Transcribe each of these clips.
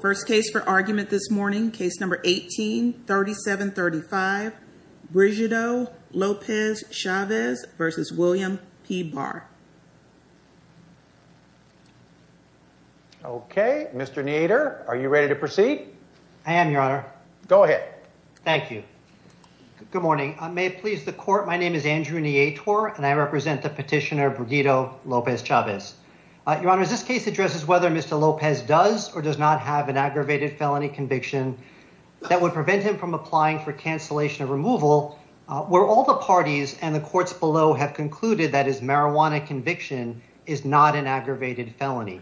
First case for argument this morning, case number 18-3735, Brigido Lopez-Chavez v. William P. Barr. Okay, Mr. Neator, are you ready to proceed? I am, Your Honor. Go ahead. Thank you. Good morning. May it please the Court, my name is Andrew Neator, and I represent the petitioner Brigido Lopez-Chavez. Your Honor, this case addresses whether Mr. Lopez does or does not have an aggravated felony conviction that would prevent him from applying for cancellation of removal, where all the parties and the courts below have concluded that his marijuana conviction is not an aggravated felony.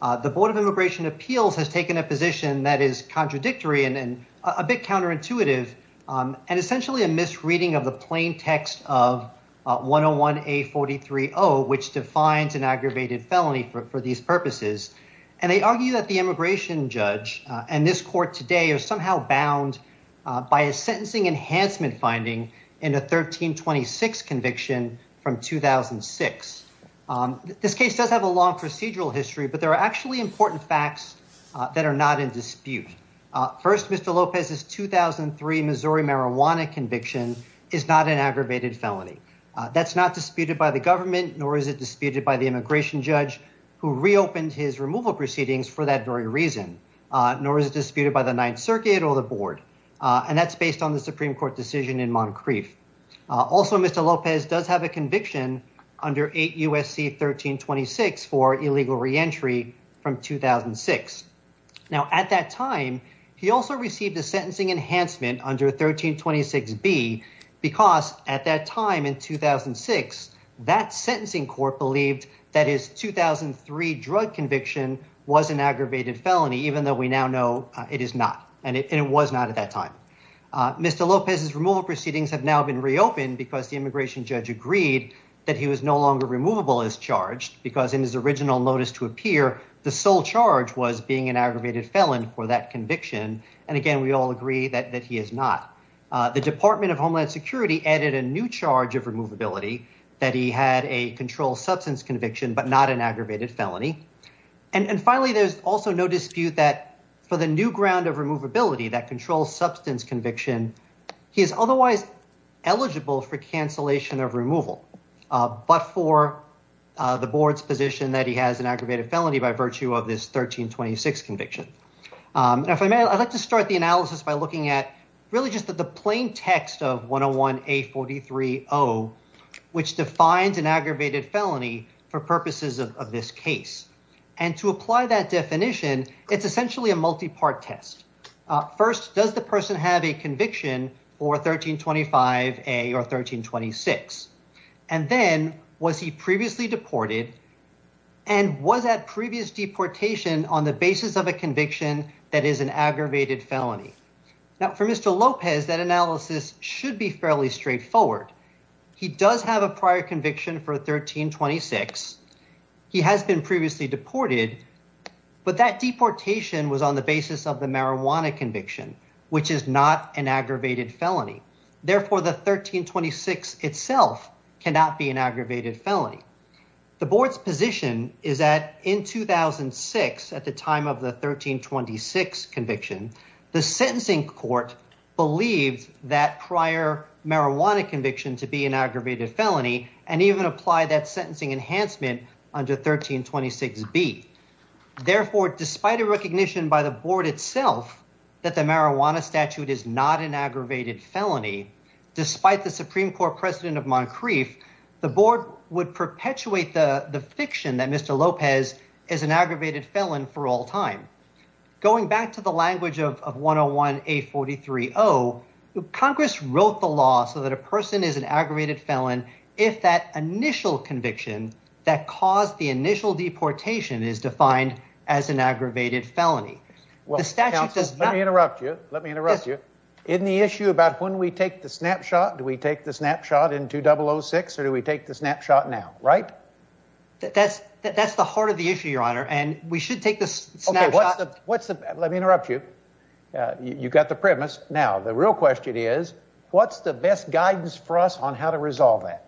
The Board of Immigration Appeals has taken a position that is contradictory and a bit counterintuitive, and essentially a misreading of the plain text of 101-A43-0, which defines an aggravated felony for these purposes. And they argue that the immigration judge and this court today are somehow bound by a sentencing enhancement finding in a 1326 conviction from 2006. This case does have a long procedural history, but there are actually important facts that are not in dispute. First, Mr. Lopez's 2003 Missouri marijuana conviction is not an aggravated felony. That's not disputed by the government, nor is it disputed by the immigration judge, who reopened his removal proceedings for that very reason, nor is it disputed by the Ninth Circuit or the Board. And that's based on the Supreme Court decision in Moncrief. Also, Mr. Lopez does have a conviction under 8 U.S.C. 1326 for illegal reentry from 2006. Now, at that time, he also received a sentencing enhancement under 1326-B because at that time in 2006, that sentencing court believed that his 2003 drug conviction was an aggravated felony, even though we now know it is not and it was not at that time. Mr. Lopez's removal proceedings have now been reopened because the immigration judge agreed that he was no longer removable as charged because in his original notice to appear, the sole charge was being an aggravated felon for that conviction. And again, we all agree that he is not. The Department of Homeland Security added a new charge of removability, that he had a controlled substance conviction but not an aggravated felony. And finally, there's also no dispute that for the new ground of removability, that controlled substance conviction, he is otherwise eligible for cancellation of removal, but for the board's position that he has an aggravated felony by virtue of this 1326 conviction. And if I may, I'd like to start the analysis by looking at really just the plain text of 101-A-43-0, which defines an aggravated felony for purposes of this case. And to apply that definition, it's essentially a multi-part test. First, does the person have a conviction for 1325-A or 1326? And then, was he previously deported and was that previous deportation on the basis of a conviction that is an aggravated felony? Now, for Mr. Lopez, that analysis should be fairly straightforward. He does have a prior conviction for 1326. He has been previously deported, but that deportation was on the basis of the marijuana conviction, which is not an aggravated felony. Therefore, the 1326 itself cannot be an aggravated felony. The board's position is that in 2006, at the time of the 1326 conviction, the sentencing court believed that prior marijuana conviction to be an aggravated felony and even applied that sentencing enhancement under 1326-B. Therefore, despite a recognition by the board itself that the marijuana statute is not an aggravated felony, despite the Supreme Court precedent of Moncrief, the board would perpetuate the fiction that Mr. Lopez is an aggravated felon for all time. Going back to the language of 101-A-43-0, Congress wrote the law so that a person is an aggravated felon if that initial conviction that caused the initial deportation is defined as an aggravated felony. The statute does not— Well, counsel, let me interrupt you. Let me interrupt you. In the issue about when we take the snapshot, do we take the snapshot in 2006 or do we take the snapshot now, right? That's the heart of the issue, Your Honor, and we should take the snapshot— Okay, what's the—let me interrupt you. You got the premise. Now, the real question is, what's the best guidance for us on how to resolve that?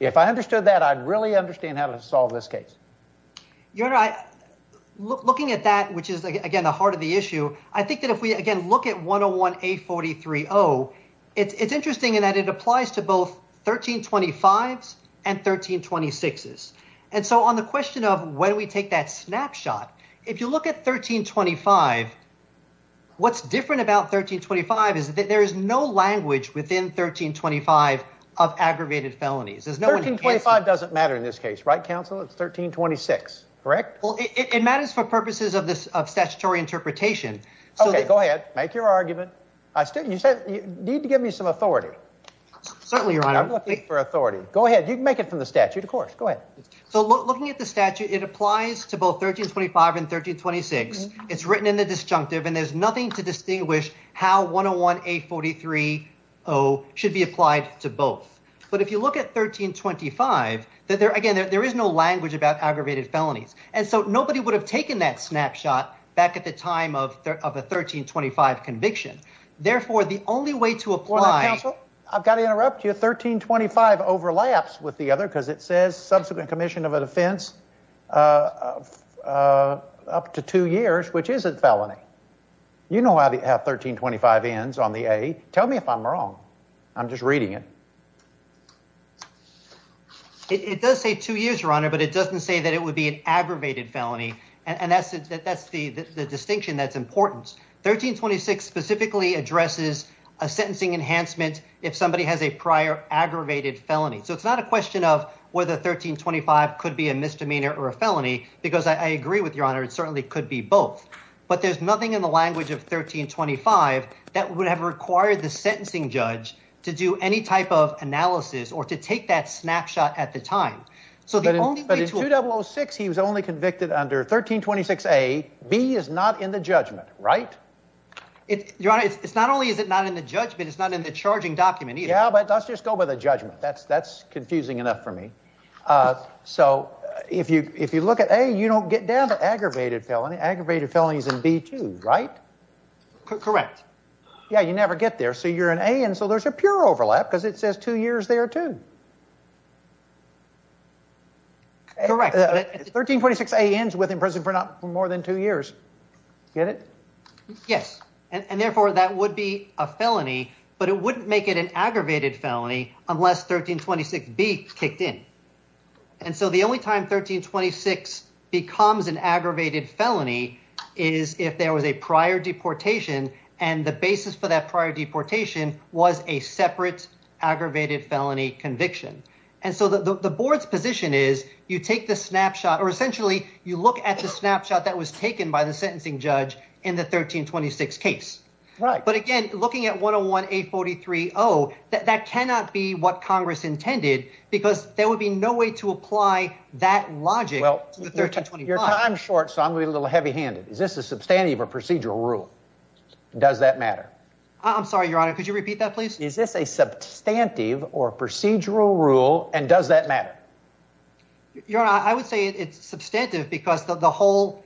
If I understood that, I'd really understand how to solve this case. Your Honor, looking at that, which is, again, the heart of the issue, I think that if we, again, look at 101-A-43-0, it's interesting in that it applies to both 1325s and 1326s. And so on the question of when we take that snapshot, if you look at 1325, what's different about 1325 is that there is no language within 1325 of aggravated felonies. There's no— 1325 doesn't matter in this case, right, counsel? It's 1326, correct? Well, it matters for purposes of statutory interpretation. Okay, go ahead. Make your argument. You need to give me some authority. Certainly, Your Honor. I'm looking for authority. Go ahead. You can make it from the statute, of course. Go ahead. So, looking at the statute, it applies to both 1325 and 1326. It's written in the disjunctive, and there's nothing to distinguish how 101-A-43-0 should be applied to both. But if you look at 1325, again, there is no language about aggravated felonies. And so nobody would have taken that snapshot back at the time of the 1325 conviction. Therefore, the only way to apply— Hold on, counsel. I've got to interrupt you. It says that 1325 overlaps with the other because it says subsequent commission of a defense up to two years, which is a felony. You know how 1325 ends on the A. Tell me if I'm wrong. I'm just reading it. It does say two years, Your Honor, but it doesn't say that it would be an aggravated felony. And that's the distinction that's important. 1326 specifically addresses a sentencing enhancement if somebody has a prior aggravated felony. So it's not a question of whether 1325 could be a misdemeanor or a felony because I agree with Your Honor, it certainly could be both. But there's nothing in the language of 1325 that would have required the sentencing judge to do any type of analysis or to take that snapshot at the time. But in 2006, he was only convicted under 1326A. B is not in the judgment, right? Your Honor, not only is it not in the judgment, it's not in the charging document either. Yeah, but let's just go by the judgment. That's confusing enough for me. So if you look at A, you don't get down to aggravated felony. Aggravated felony is in B too, right? Correct. Yeah, you never get there. So you're in A, and so there's a pure overlap because it says two years there too. Correct. 1326A ends with imprisonment for more than two years. Get it? Yes, and therefore that would be a felony, but it wouldn't make it an aggravated felony unless 1326B kicked in. And so the only time 1326 becomes an aggravated felony is if there was a prior deportation and the basis for that prior deportation was a separate aggravated felony conviction. And so the board's position is you take the snapshot or essentially you look at the snapshot that was taken by the sentencing judge in the 1326 case. Right. But again, looking at 101A43O, that cannot be what Congress intended because there would be no way to apply that logic to 1325. Well, your time's short, so I'm going to be a little heavy-handed. Is this a substantive or procedural rule? Does that matter? I'm sorry, Your Honor. Could you repeat that, please? Is this a substantive or procedural rule, and does that matter? Your Honor, I would say it's substantive because the whole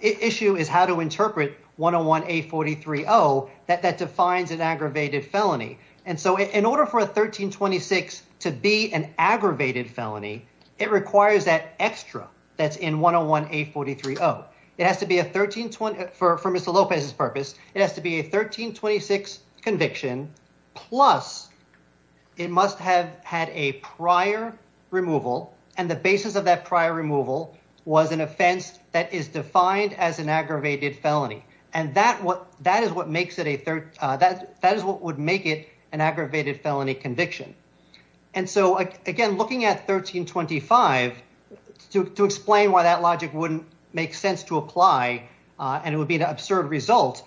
issue is how to interpret 101A43O that defines an aggravated felony. And so in order for a 1326 to be an aggravated felony, it requires that extra that's in 101A43O. For Mr. Lopez's purpose, it has to be a 1326 conviction, plus it must have had a prior removal, and the basis of that prior removal was an offense that is defined as an aggravated felony. And that is what would make it an aggravated felony conviction. And so, again, looking at 1325, to explain why that logic wouldn't make sense to apply and it would be an absurd result,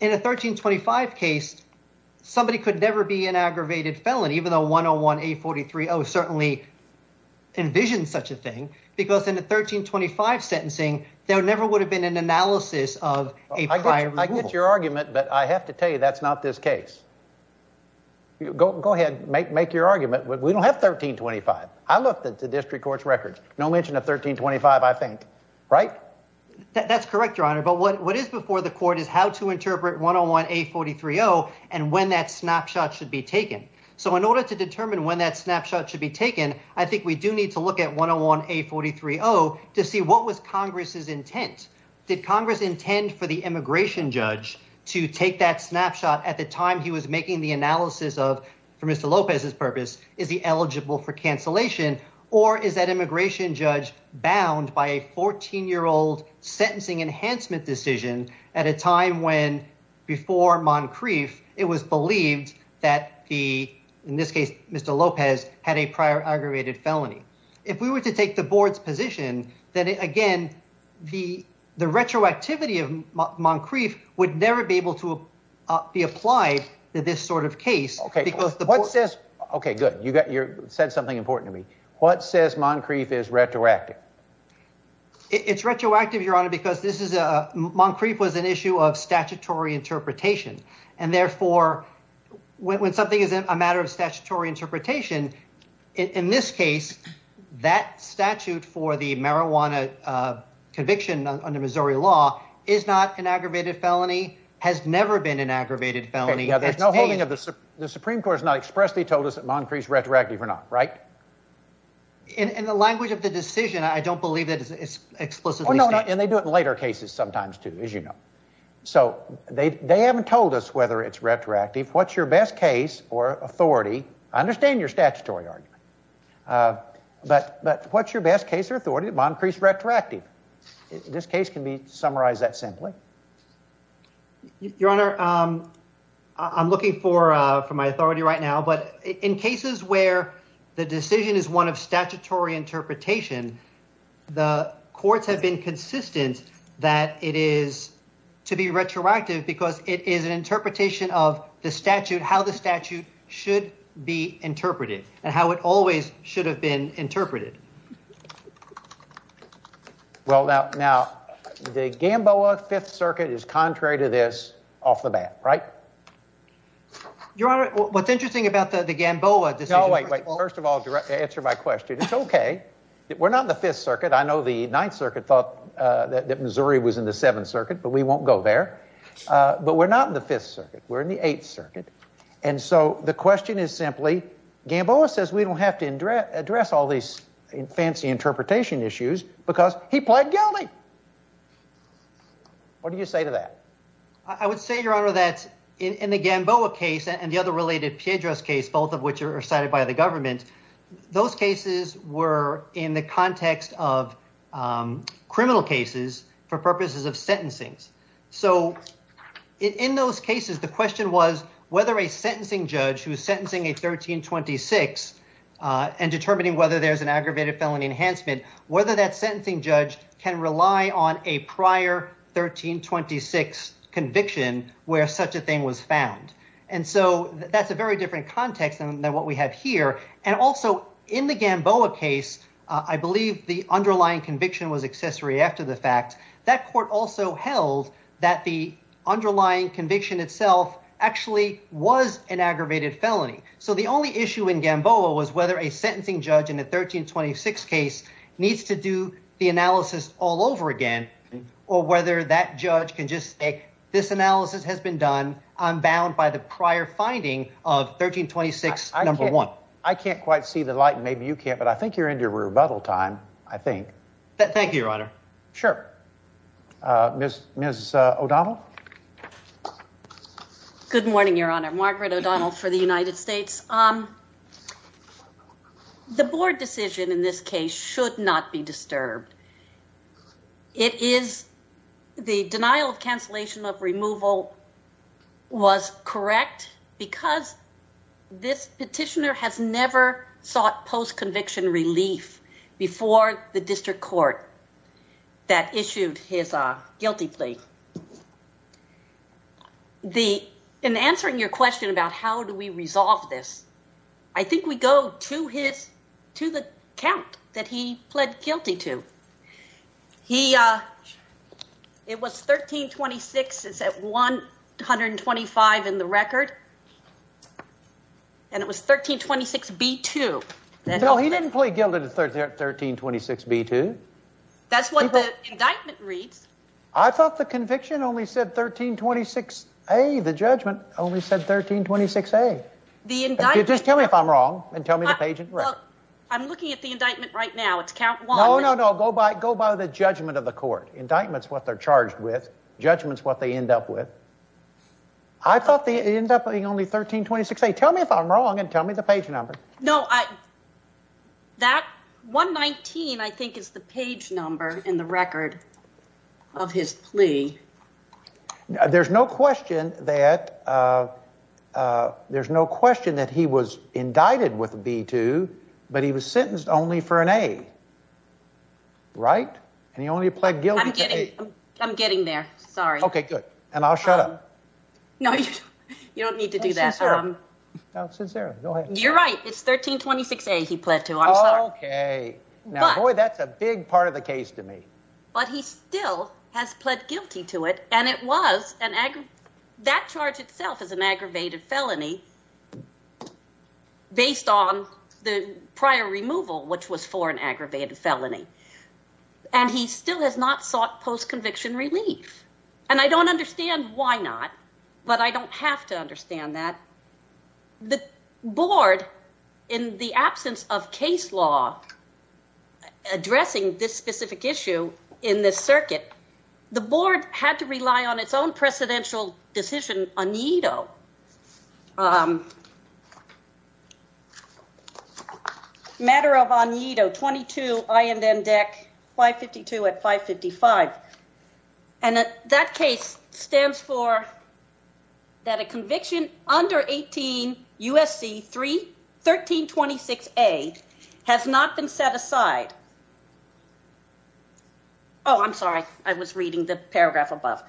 in a 1325 case, somebody could never be an aggravated felony, even though 101A43O certainly envisioned such a thing, because in a 1325 sentencing, there never would have been an analysis of a prior removal. I get your argument, but I have to tell you that's not this case. Go ahead, make your argument. We don't have 1325. I looked at the district court's records. No mention of 1325, I think. Right? That's correct, Your Honor. But what is before the court is how to interpret 101A43O and when that snapshot should be taken. So in order to determine when that snapshot should be taken, I think we do need to look at 101A43O to see what was Congress's intent. Did Congress intend for the immigration judge to take that snapshot at the time he was making the analysis of, for Mr. Lopez's purpose, is he eligible for cancellation, or is that immigration judge bound by a 14-year-old sentencing enhancement decision at a time when, before Moncrief, it was believed that the, in this case, Mr. Lopez, had a prior aggravated felony? If we were to take the board's position, then, again, the retroactivity of Moncrief would never be able to be applied to this sort of case. Okay, good. You said something important to me. What says Moncrief is retroactive? It's retroactive, Your Honor, because this is a, Moncrief was an issue of statutory interpretation. And therefore, when something is a matter of statutory interpretation, in this case, that statute for the marijuana conviction under Missouri law is not an aggravated felony, has never been an aggravated felony. There's no holding of the, the Supreme Court has not expressly told us that Moncrief's retroactive or not, right? In the language of the decision, I don't believe that it's explicitly stated. Oh, no, no, and they do it in later cases sometimes, too, as you know. So they haven't told us whether it's retroactive. What's your best case or authority? I understand your statutory argument, but what's your best case or authority that Moncrief's retroactive? This case can be summarized that simply. Your Honor, I'm looking for my authority right now, but in cases where the decision is one of statutory interpretation, the courts have been consistent that it is to be retroactive because it is an interpretation of the statute, how the statute should be interpreted and how it always should have been interpreted. Well, now, the Gamboa Fifth Circuit is contrary to this off the bat, right? Your Honor, what's interesting about the Gamboa decision. No, wait, wait, first of all, to answer my question, it's okay. We're not in the Fifth Circuit. I know the Ninth Circuit thought that Missouri was in the Seventh Circuit, but we won't go there. But we're not in the Fifth Circuit. We're in the Eighth Circuit. And so the question is simply, Gamboa says we don't have to address all these fancy interpretation issues because he pled guilty. What do you say to that? I would say, Your Honor, that in the Gamboa case and the other related Piedras case, both of which are cited by the government, those cases were in the context of criminal cases for purposes of sentencing. So in those cases, the question was whether a sentencing judge who is sentencing a 1326 and determining whether there's an aggravated felony enhancement, whether that sentencing judge can rely on a prior 1326 conviction where such a thing was found. And so that's a very different context than what we have here. And also in the Gamboa case, I believe the underlying conviction was accessory after the fact that court also held that the underlying conviction itself actually was an aggravated felony. So the only issue in Gamboa was whether a sentencing judge in the 1326 case needs to do the analysis all over again or whether that judge can just say this analysis has been done. I'm bound by the prior finding of 1326. Number one, I can't quite see the light. Maybe you can't. But I think you're into rebuttal time. I think that. Thank you, Your Honor. Sure. Miss Miss O'Donnell. Good morning, Your Honor. Margaret O'Donnell for the United States. The board decision in this case should not be disturbed. It is the denial of cancellation of removal was correct because this petitioner has never sought post-conviction relief before the district court that issued his guilty plea. The in answering your question about how do we resolve this, I think we go to his to the count that he pled guilty to. He it was 1326 is at one hundred and twenty five in the record. And it was 1326 B2. No, he didn't plead guilty to 1326 B2. That's what the indictment reads. I thought the conviction only said 1326 A. The judgment only said 1326 A. The indictment. Just tell me if I'm wrong and tell me the page. I'm looking at the indictment right now. It's count. No, no, no. Go by. Go by the judgment of the court indictments. What they're charged with judgments, what they end up with. I thought the end up being only 1326. Tell me if I'm wrong and tell me the page number. No, I that 119, I think, is the page number in the record of his plea. There's no question that there's no question that he was indicted with B2, but he was sentenced only for an A. Right. And he only pled guilty. I'm getting there. Sorry. OK, good. And I'll shut up. No, you don't need to do that. You're right. It's 1326. He pled to. OK, boy, that's a big part of the case to me. But he still has pled guilty to it. And it was an egg. That charge itself is an aggravated felony based on the prior removal, which was for an aggravated felony. And he still has not sought post conviction relief. And I don't understand why not. But I don't have to understand that the board, in the absence of case law addressing this specific issue in this circuit, the board had to rely on its own presidential decision. I'm sorry, I was reading the paragraph above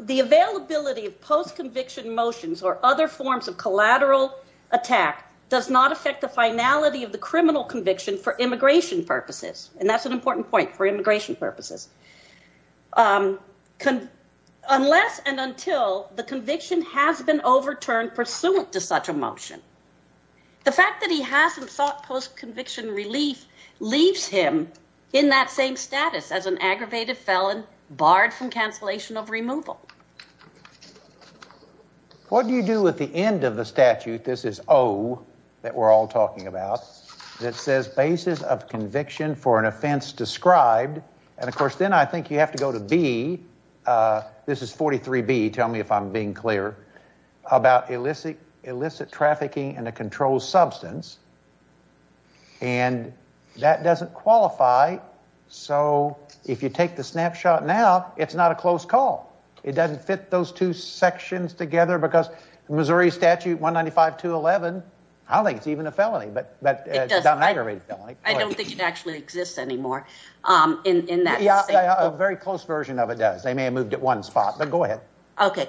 the availability of post conviction relief. or other forms of collateral attack does not affect the finality of the criminal conviction for immigration purposes. And that's an important point for immigration purposes. Unless and until the conviction has been overturned pursuant to such a motion. The fact that he hasn't sought post conviction relief leaves him in that same status as an aggravated felon barred from cancellation of removal. What do you do with the end of the statute? This is O that we're all talking about. It says basis of conviction for an offense described. And, of course, then I think you have to go to B. This is 43 B. Tell me if I'm being clear about illicit illicit trafficking in a controlled substance. And that doesn't qualify. So if you take the snapshot now, it's not a close call. It doesn't fit those two sections together because Missouri Statute 195 to 11. I don't think it's even a felony, but it's not an aggravated felony. I don't think it actually exists anymore in that. Yeah, a very close version of it does. They may have moved at one spot, but go ahead. OK.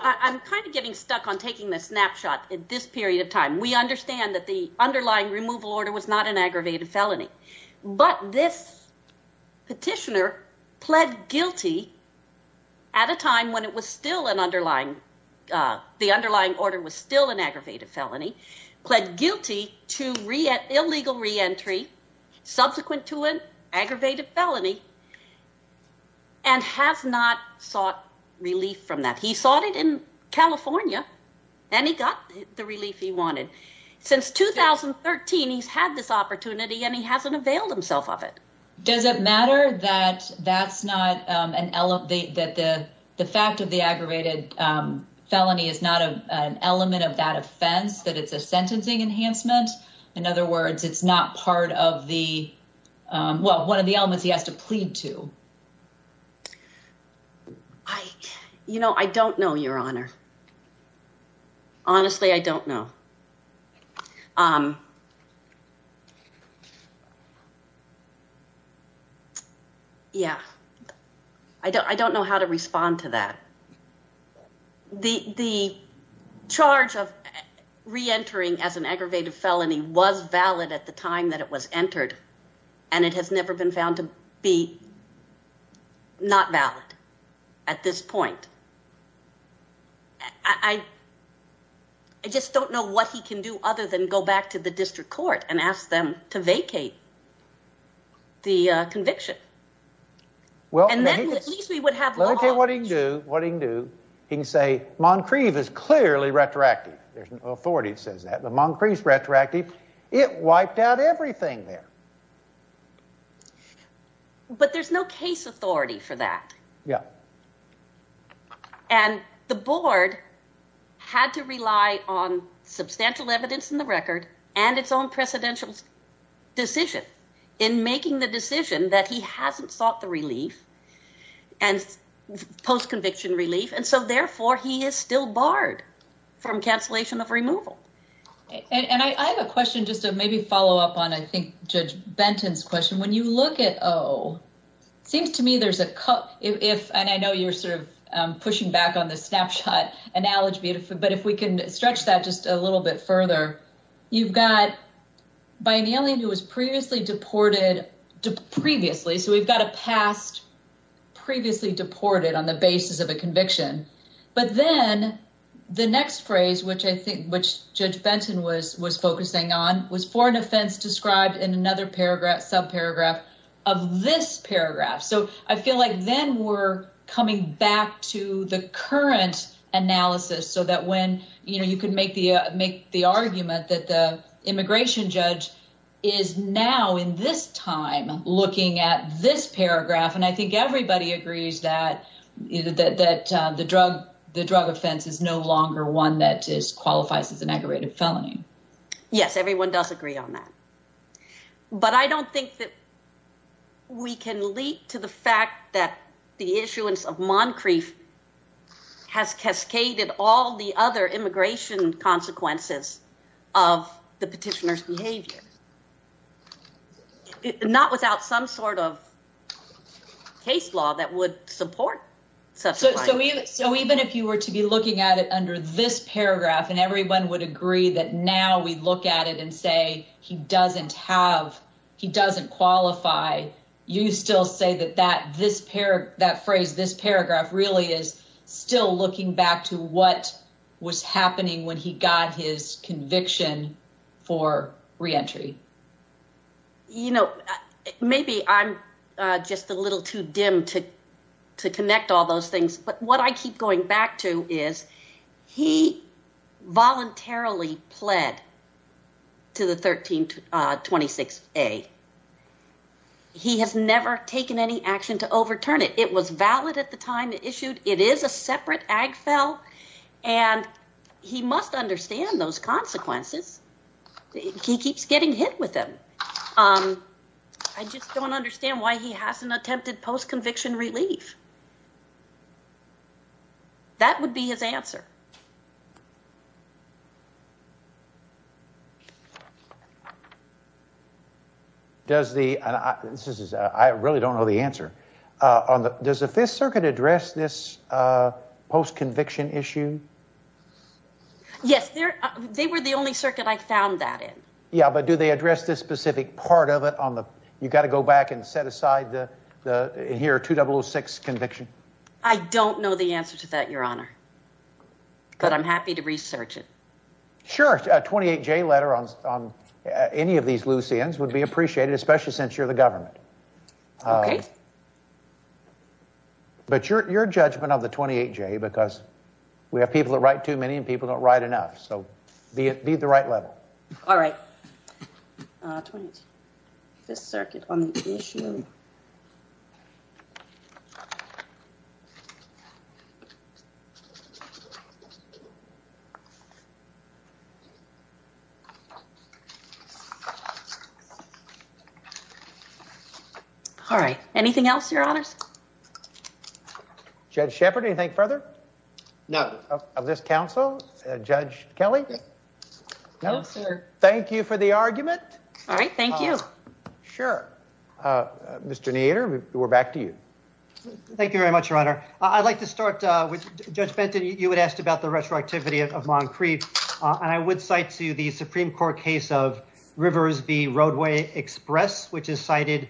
I'm kind of getting stuck on taking the snapshot at this period of time. We understand that the underlying removal order was not an aggravated felony. But this petitioner pled guilty at a time when it was still an underlying. The underlying order was still an aggravated felony, pled guilty to re illegal reentry subsequent to an aggravated felony. And has not sought relief from that. He sought it in California and he got the relief he wanted since 2013. He's had this opportunity and he hasn't availed himself of it. Does it matter that that's not an elevate that the the fact of the aggravated felony is not an element of that offense, that it's a sentencing enhancement? In other words, it's not part of the well, one of the elements he has to plead to. I you know, I don't know your honor. Honestly, I don't know. Yeah, I don't I don't know how to respond to that. The the charge of reentering as an aggravated felony was valid at the time that it was entered and it has never been found to be not valid at this point. I. I just don't know what he can do other than go back to the district court and ask them to vacate. The conviction. Well, and then at least we would have what he can do, what he can do. He can say Moncrief is clearly retroactive. There's an authority that says that the Moncrief retroactive. It wiped out everything there. But there's no case authority for that. Yeah. And the board had to rely on substantial evidence in the record and its own presidential decision in making the decision that he hasn't sought the relief and post conviction relief. And so, therefore, he is still barred from cancellation of removal. And I have a question just to maybe follow up on, I think, Judge Benton's question. When you look at, oh, seems to me there's a cup if and I know you're sort of pushing back on the snapshot analogy, but if we can stretch that just a little bit further, you've got by an alien who was previously deported previously. So we've got a past previously deported on the basis of a conviction. But then the next phrase, which I think which Judge Benton was was focusing on was for an offense described in another paragraph, sub paragraph of this paragraph. So I feel like then we're coming back to the current analysis so that when you could make the make the argument that the immigration judge is now in this time looking at this paragraph. And I think everybody agrees that that the drug the drug offense is no longer one that is qualifies as an aggravated felony. Yes, everyone does agree on that. But I don't think that. We can lead to the fact that the issuance of Moncrief has cascaded all the other immigration consequences of the petitioner's behavior. Not without some sort of. Case law that would support so. So even if you were to be looking at it under this paragraph and everyone would agree that now we look at it and say he doesn't have he doesn't qualify. You still say that that this pair that phrase this paragraph really is still looking back to what was happening when he got his conviction for reentry. You know, maybe I'm just a little too dim to to connect all those things. But what I keep going back to is he voluntarily pled to the 1326 a. He has never taken any action to overturn it. It was valid at the time it issued. It is a separate AG fell and he must understand those consequences. He keeps getting hit with them. I just don't understand why he hasn't attempted post conviction relief. That would be his answer. Does the I really don't know the answer on the does the Fifth Circuit address this post conviction issue? Yes, they're they were the only circuit. I found that in. Yeah, but do they address this specific part of it on the you got to go back and set aside the here to double six conviction. I don't know the answer to that. Your Honor. But I'm happy to research it. Sure. 28 J letter on any of these loose ends would be appreciated, especially since you're the government. Okay. But your judgment of the 28 J because we have people that write too many and people don't write enough. So be the right level. All right. This circuit on the issue. All right. Anything else? Your Honor. Judge Shepard. Anything further? No. Of this council. Judge Kelly. No, sir. Thank you for the argument. All right. Thank you. Sure. Mr. Nader. We're back to you. Thank you very much. Your Honor. I'd like to start with Judge Benton. You had asked about the retroactivity of Moncrief. And I would cite to you the Supreme Court case of Rivers V Roadway Express, which is cited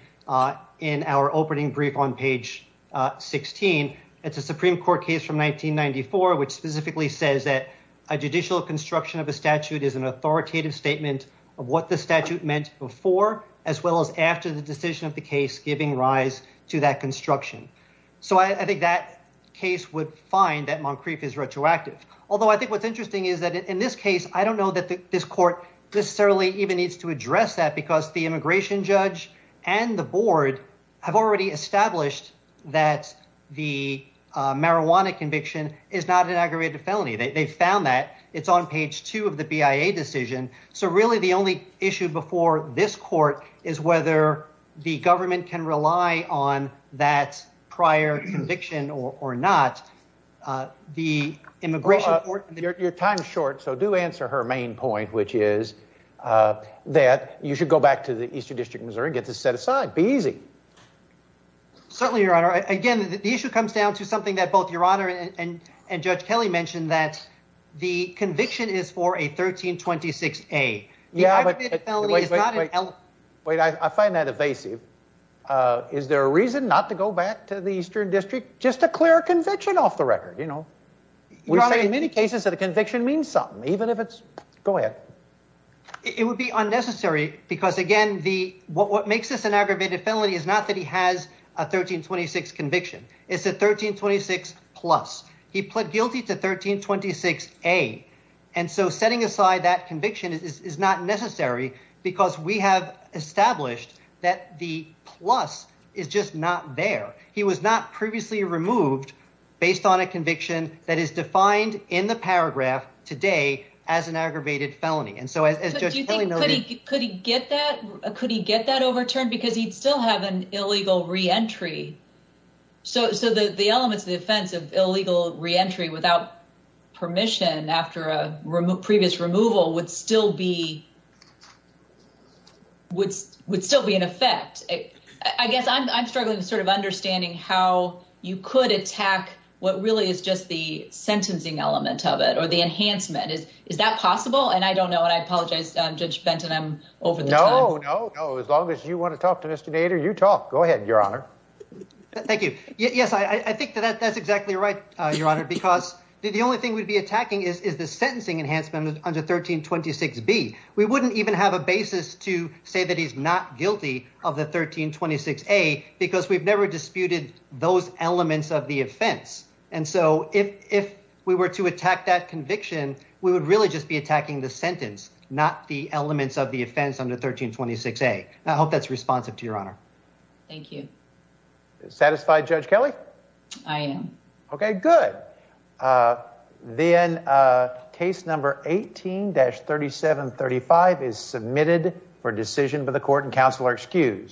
in our opening brief on page 16. It's a Supreme Court case from 1994, which specifically says that a judicial construction of a statute is an authoritative statement of what the statute meant before, as well as after the decision of the case, giving rise to that construction. So I think that case would find that Moncrief is retroactive. Although I think what's interesting is that in this case, I don't know that this court necessarily even needs to address that because the immigration judge and the board have already established that the marijuana conviction is not an aggravated felony. They found that it's on page two of the BIA decision. So really, the only issue before this court is whether the government can rely on that prior conviction or not. The immigration court. Your time is short, so do answer her main point, which is that you should go back to the Eastern District of Missouri and get this set aside. Be easy. Certainly your honor. Again, the issue comes down to something that both your honor and Judge Kelly mentioned that the conviction is for a 1326. A yeah, but wait, wait, wait. I find that evasive. Is there a reason not to go back to the Eastern District? Just a clear conviction off the record. You know, we say in many cases that a conviction means something, even if it's go ahead. It would be unnecessary because again, the what makes this an aggravated felony is not that he has a 1326 conviction. It's a 1326 plus. He pled guilty to 1326 a and so setting aside that conviction is not necessary because we have established that the plus is just not there. He was not previously removed based on a conviction that is defined in the paragraph today as an aggravated felony. And so, as you think, could he get that? Could he get that overturned? Because he'd still have an illegal reentry. So the elements of the offense of illegal reentry without permission after a previous removal would still be would still be in effect. I guess I'm struggling to sort of understanding how you could attack what really is just the sentencing element of it or the enhancement. Is that possible? And I don't know. And I apologize, Judge Benton. I'm over. No, no, no. As long as you want to talk to Mr. Go ahead, Your Honor. Thank you. Yes, I think that that's exactly right, Your Honor, because the only thing we'd be attacking is the sentencing enhancement under 1326 B. We wouldn't even have a basis to say that he's not guilty of the 1326 A because we've never disputed those elements of the offense. And so if we were to attack that conviction, we would really just be attacking the sentence, not the elements of the offense under 1326 A. I hope that's responsive to your honor. Thank you. Satisfied, Judge Kelly? I am. OK, good. Then case number 18-3735 is submitted for decision by the court and counsel are excused.